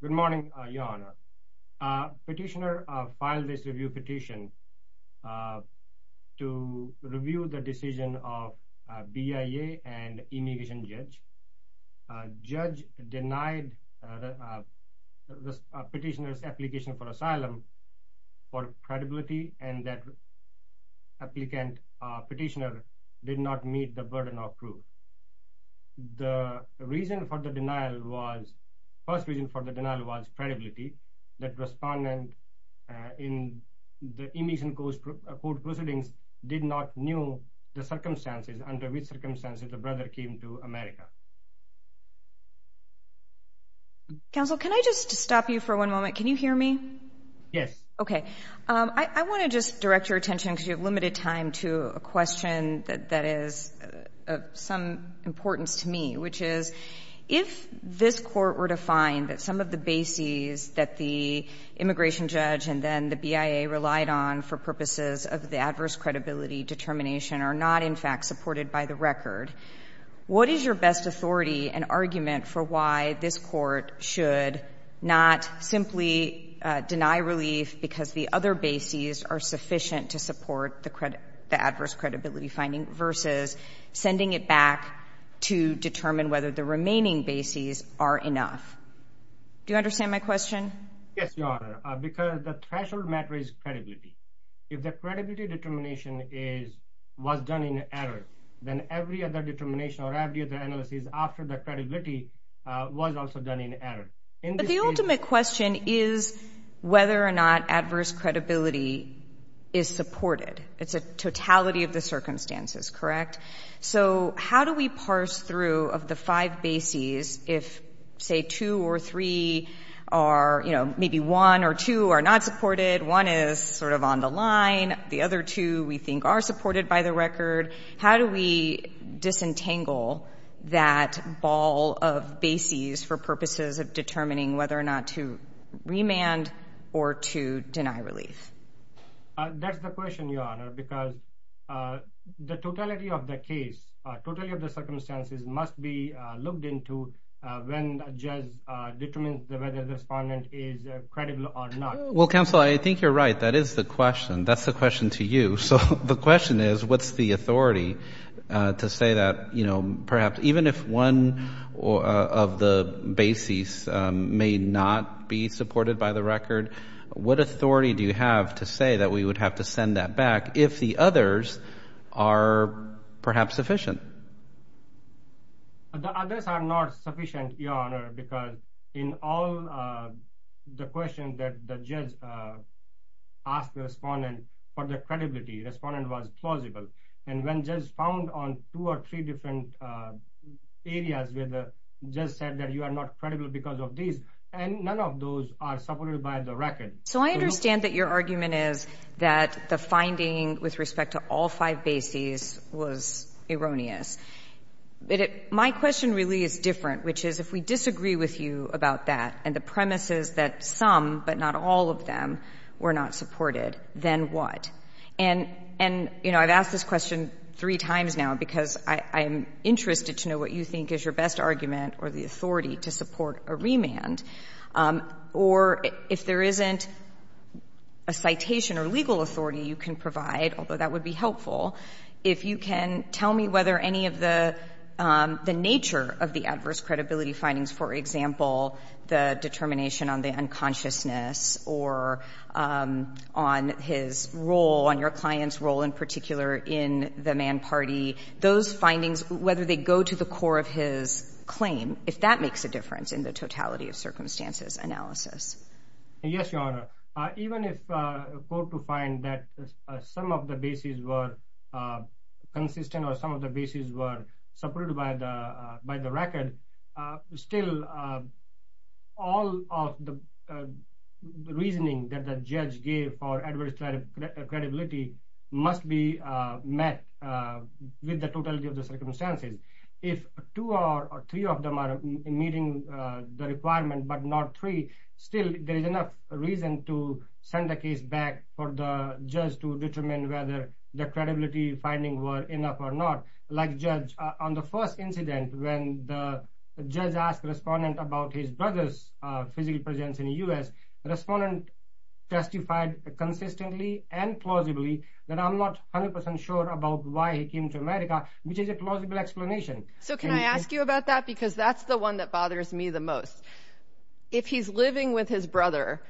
Good morning, Your Honor. Petitioner filed this review petition to review the decision of BIA and immigration judge. Judge denied petitioner's application for asylum for credibility and that applicant petitioner did not meet the burden of proof. The reason for the denial was first reason for the denial was credibility that respondent in the immigration court proceedings did not know the circumstances under which circumstances the brother came to America. Counsel, can I just stop you for one moment? Can you hear me? Yes. Okay. I want to just direct your attention because you have limited time to a question that is of some importance to me, which is if this court were to find that some of the bases that the immigration judge and then the BIA relied on for purposes of the adverse credibility determination are not in fact supported by the record, what is your best authority and argument for why this court should not simply deny relief because the other bases are sufficient to support the adverse credibility finding versus sending it back to determine whether the remaining bases are enough? Do you understand my question? Yes, Your Honor, because the threshold matter is credibility. If the credibility determination was done in error, then every other determination or every other analysis after the credibility was also done in error. But the ultimate question is whether or not adverse credibility is supported. It's a totality of the circumstances, correct? So how do we parse through of the five bases if, say, two or three are, you know, maybe one or two are not supported? One is sort of on the line. The other two we think are supported by the record. How do we disentangle that ball of bases for purposes of determining whether or not to remand or to deny relief? That's the question, Your Honor, because the totality of the case or totality of the circumstances must be looked into when judge determines whether the respondent is credible or not. Well, counsel, I think you're right. That is the question. That's the question to you. So the question is, what's the authority to say that, you know, perhaps even if one of the bases may not be supported by the record, what authority do you have to say that we would have to send that back if the others are perhaps sufficient? The others are not sufficient, Your Honor, because in all the questions that the judge asked the respondent for the credibility, the respondent was plausible. And when judge found on two or three different areas where the judge said that you are not credible because of these, and none of those are supported by the record. So I understand that your argument is that the finding with respect to all five bases was erroneous. My question really is different, which is if we disagree with you about that and the premises that but not all of them were not supported, then what? And, you know, I've asked this question three times now because I'm interested to know what you think is your best argument or the authority to support a remand. Or if there isn't a citation or legal authority you can provide, although that would be helpful, if you can tell me whether any of the nature of the adverse credibility findings, for example, the determination on the unconsciousness or on his role, on your client's role in particular in the Mann Party, those findings, whether they go to the core of his claim, if that makes a difference in the totality of circumstances analysis? Yes, Your Honor. Even if a court to find that some of the bases were consistent or some of the bases were supported by the record, still all of the reasoning that the judge gave for adverse credibility must be met with the totality of the circumstances. If two or three of them are meeting the requirement, but not three, still there is enough reason to send the case back for the judge to determine whether the credibility findings were enough or not. Like, Judge, on the first incident when the judge asked the respondent about his brother's physical presence in the U.S., the respondent testified consistently and plausibly that I'm not 100 percent sure about why he came to America, which is a plausible explanation. So can I ask you about that? Because that's the one that bothers me the most. If he's living with his brother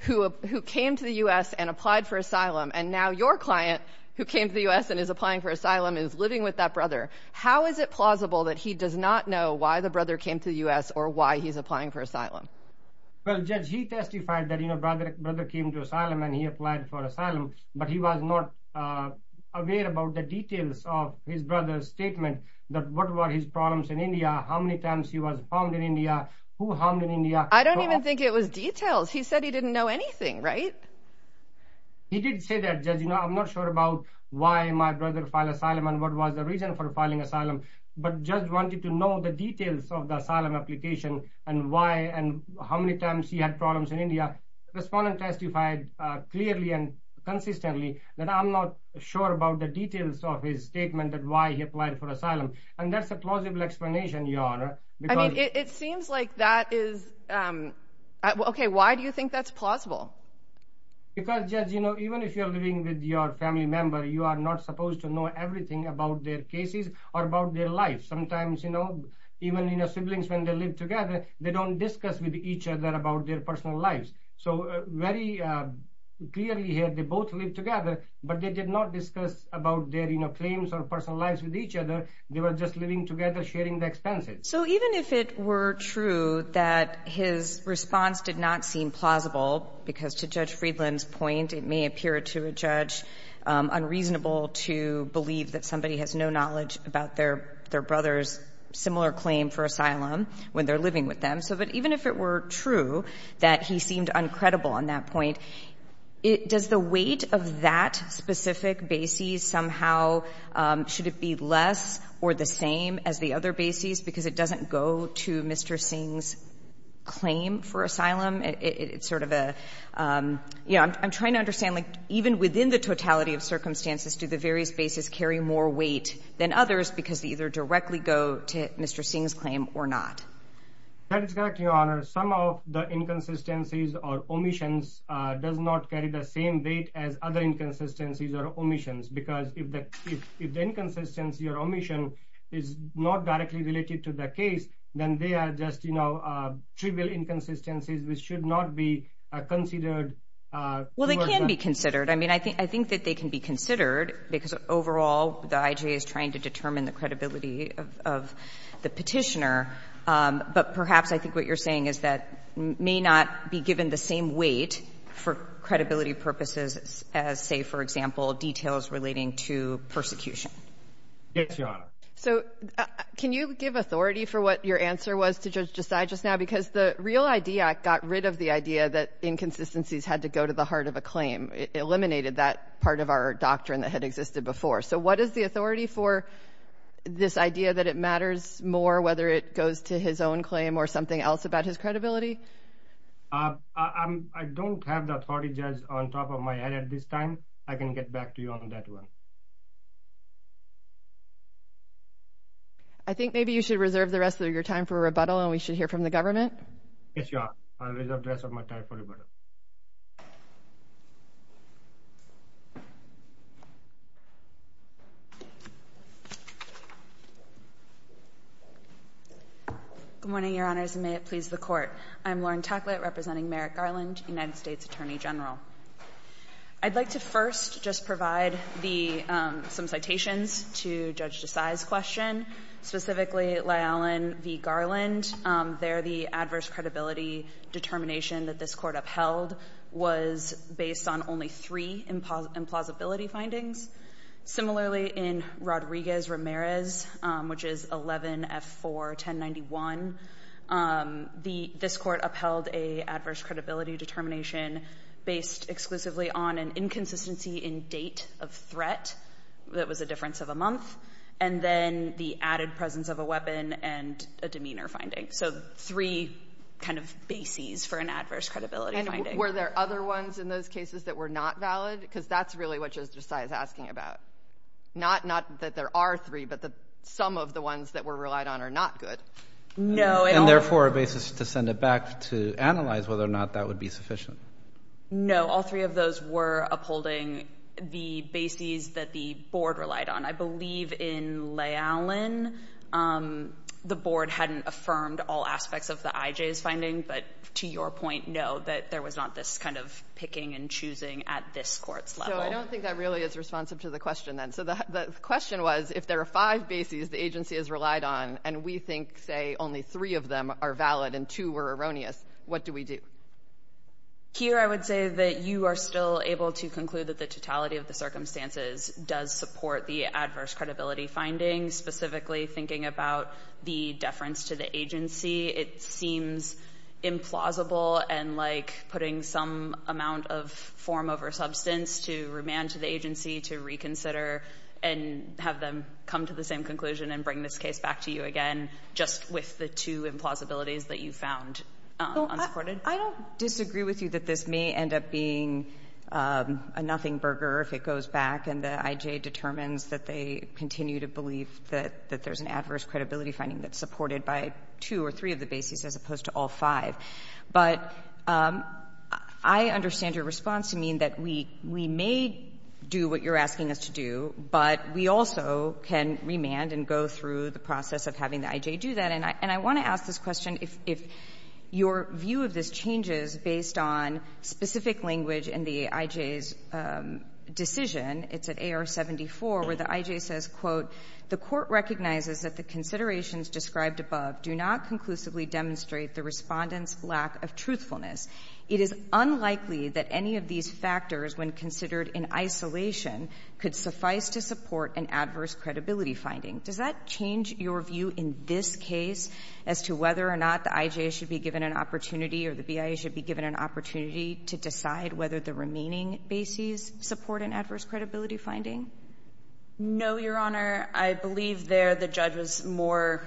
who came to the U.S. and applied for asylum, and now your client who came to the U.S. and is applying for asylum is living with that brother, how is it plausible that he does not know why the brother came to the U.S. or why he's applying for asylum? Well, Judge, he testified that, you know, brother came to asylum and he applied for asylum, but he was not aware about the details of his brother's statement, that what were his problems in India, how many times he was bombed in India, who harmed in India. I don't even think it was details. He said he didn't know anything, right? He did say that, Judge, you know, I'm not sure about why my brother filed asylum and what was the reason for filing asylum, but Judge wanted to know the details of the asylum application and why and how many times he had problems in India. Respondent testified clearly and consistently that I'm not sure about the details of his statement that why he applied for asylum, and that's a plausible explanation, Your Honor. I mean, it seems like that is, um, okay, why do you think that's plausible? Because, Judge, you know, even if you're living with your family member, you are not supposed to know everything about their cases or about their life. Sometimes, you know, even, you know, siblings, when they live together, they don't discuss with each other about their personal lives. So, very clearly here, they both live together, but they did not discuss about their, you know, claims or personal lives with each other. They were just living together, sharing the expenses. So, even if it were true that his response did not seem plausible, because to Judge Friedland's point, it may appear to a judge unreasonable to believe that somebody has no knowledge about their brother's similar claim for asylum when they're living with them. So, but even if it were true that he seemed uncredible on that point, does the weight of that specific basis somehow, should it be less or the same as the other basis? Because it doesn't go to Mr. Singh's claim for asylum. It's sort of a, you know, I'm trying to understand, like, even within the totality of circumstances, do the various bases carry more weight than others because they either directly go to Mr. Singh's claim or not? That is correct, Your Honor. Some of the inconsistencies or omissions does not carry the same weight as other inconsistencies or omissions, because if the inconsistency or omission is not directly related to the case, then they are just, you know, trivial inconsistencies which should not be considered. Well, they can be considered. I mean, I think that they can be considered because overall, the IJ is trying to determine the credibility of the Petitioner. But perhaps I think what you're saying is that may not be given the same weight for credibility purposes as, say, for example, details relating to persecution. Yes, Your Honor. So can you give authority for what your answer was to Judge Desai just now? Because the real idea got rid of the idea that inconsistencies had to go to the heart of a claim. It eliminated that part of our doctrine that had existed before. So what is the authority for this idea that it matters more whether it goes to his own claim or something else about his credibility? I don't have the authority, Judge, on top of my head at this time. I can get back to you on that one. I think maybe you should reserve the rest of your time for rebuttal, and we should hear from the government. Yes, Your Honor. I'll reserve the rest of my time for rebuttal. Good morning, Your Honors, and may it please the Court. I'm Lauren Tacklett, representing Merrick Garland, United States Attorney General. I'd like to first just provide the — some citations to Judge Desai's question, specifically Lyallon v. Garland. There, the adverse credibility determination that this Court upheld was based on only three implausibility findings. Similarly, in Rodriguez-Ramirez, which is 11-F4-1091, this Court upheld an adverse credibility determination based exclusively on an inconsistency in date of threat that was a difference of a month, and then the added presence of a weapon and a demeanor finding. So three kind of bases for an adverse credibility finding. Were there other ones in those cases that were not valid? Because that's really what Judge Desai is asking about. Not that there are three, but that some of the ones that were relied on are not good. And therefore, a basis to send it back to analyze whether or not that would be sufficient. No, all three of those were upholding the bases that the Board relied on. I believe in Lyallon, the Board hadn't affirmed all aspects of the IJ's finding, but to your point, no, that there was not this kind of picking and choosing at this Court's level. So I don't think that really is responsive to the question, then. So the question was, if there are five bases the agency has relied on, and we think, say, only three of them are valid and two were erroneous, what do we do? Here, I would say that you are still able to conclude that the totality of the circumstances does support the adverse credibility findings, specifically thinking about the deference to the agency. It seems implausible and like putting some amount of form over substance to remand to the agency to reconsider and have them come to the same conclusion and bring this case back to you again, just with the two implausibilities that you found unsupported. I don't disagree with you that this may end up being a nothing that there's an adverse credibility finding that's supported by two or three of the bases as opposed to all five. But I understand your response to mean that we may do what you're asking us to do, but we also can remand and go through the process of having the IJ do that. And I want to ask this question, if your view of this changes based on specific language in the IJ's decision, it's at AR-74, where the IJ says, quote, the court recognizes that the considerations described above do not conclusively demonstrate the Respondent's lack of truthfulness. It is unlikely that any of these factors, when considered in isolation, could suffice to support an adverse credibility finding. Does that change your view in this case as to whether or not the IJ should be given an opportunity or the BIA should be given an opportunity to decide whether the remaining bases support an adverse credibility finding? No, Your Honor. I believe there the judge was more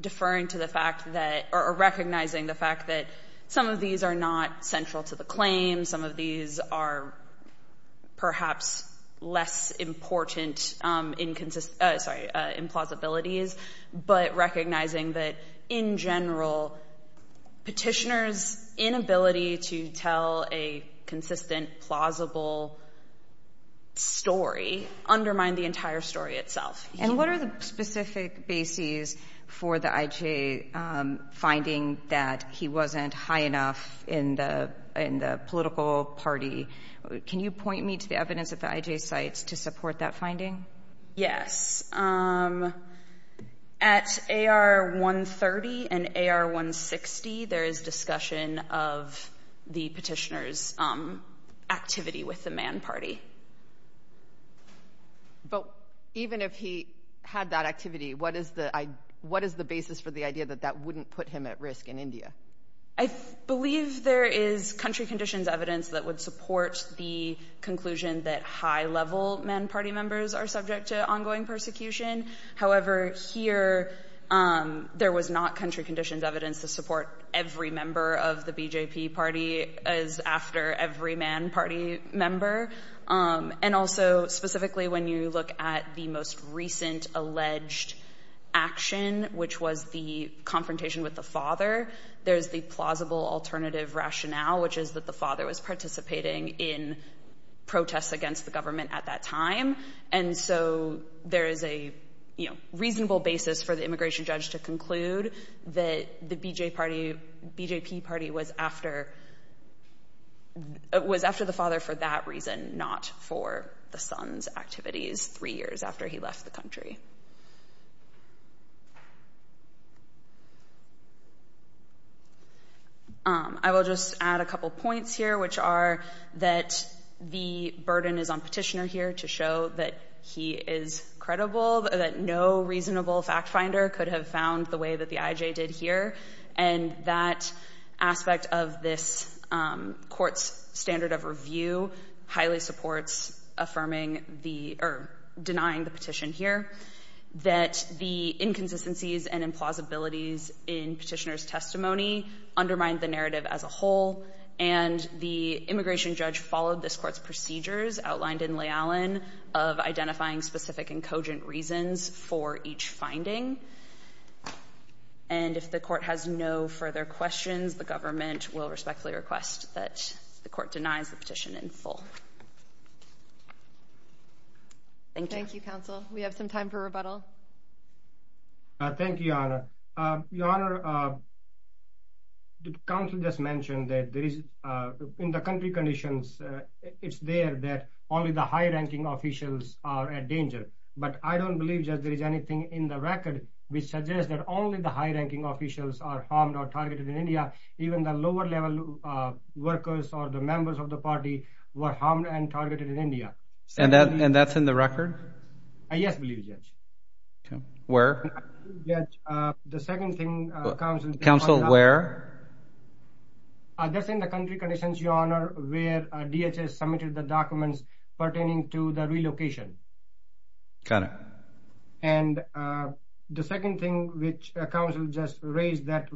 deferring to the fact that or recognizing the fact that some of these are not central to the claim. Some of these are perhaps less important implausibilities, but recognizing that, in general, petitioners' inability to tell a consistent, plausible story undermine the entire story itself. And what are the specific bases for the IJ finding that he wasn't high enough in the political party? Can you point me to the evidence that the IJ cites to support that finding? Yes. At AR-130 and AR-160, there is discussion of the petitioner's activity with the man party. But even if he had that activity, what is the basis for the idea that that wouldn't put him at risk in India? I believe there is country conditions evidence that would support the conclusion that high-level man party members are subject to ongoing persecution. However, here, there was not country conditions evidence to support every member of the BJP party as after every man party member. And also, specifically, when you look at the most recent alleged action, which was the confrontation with the father, there's the plausible alternative rationale, which is that the father was participating in protests against the government at that time. And so there is a reasonable basis for the immigration judge to conclude that the BJP party was after the father for that reason, not for the son's activities three years after he left the country. I will just add a couple points here, which are that the burden is on petitioner here to show that he is credible, that no reasonable fact finder could have found the way that the IJ did here. And that aspect of this court's standard of review highly supports denying the petition here, that the inconsistencies and implausibilities in petitioner's testimony undermined the narrative as a whole. And the immigration judge followed this court's procedures outlined in Leigh Allen of identifying specific and cogent reasons for each finding. And if the court has no further questions, the government will respectfully request that the court denies the petition in full. Thank you. Thank you, counsel. We have some time for rebuttal. Thank you, Your Honor. Your Honor, the counsel just mentioned that there is, in the country conditions, it's there that only the high-ranking officials are at danger. But I don't believe that there is anything in the record which suggests that only the high-ranking officials are harmed or targeted in India. Even the lower level workers or the members of the party were harmed and targeted in India. And that's in the record? Yes, I believe, Judge. Where? The second thing, counsel. Counsel, where? That's in the country conditions, Your Honor, where DHS submitted the documents pertaining to the relocation. Got it. And the second thing which counsel just raised, that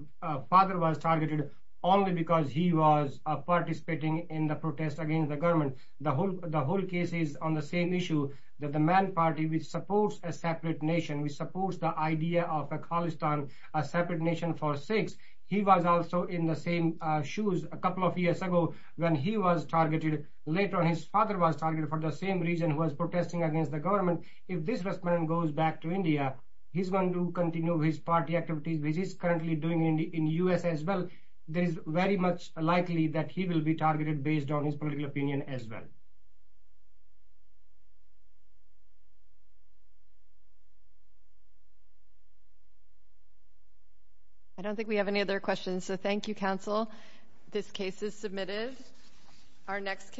father was targeted only because he was participating in the protest against the government. The whole case is on the same issue, that the man party, which supports a separate nation, which supports the idea of a Khalistan, a separate nation for sakes, he was also in the same shoes a couple of years ago when he was targeted. Later on, his father was targeted for the same reason, who was protesting against the government. If this man goes back to India, he's going to continue his party activities, currently doing in the U.S. as well. It is very much likely that he will be targeted based on his political opinion as well. I don't think we have any other questions, so thank you, counsel. This case is submitted. Our next case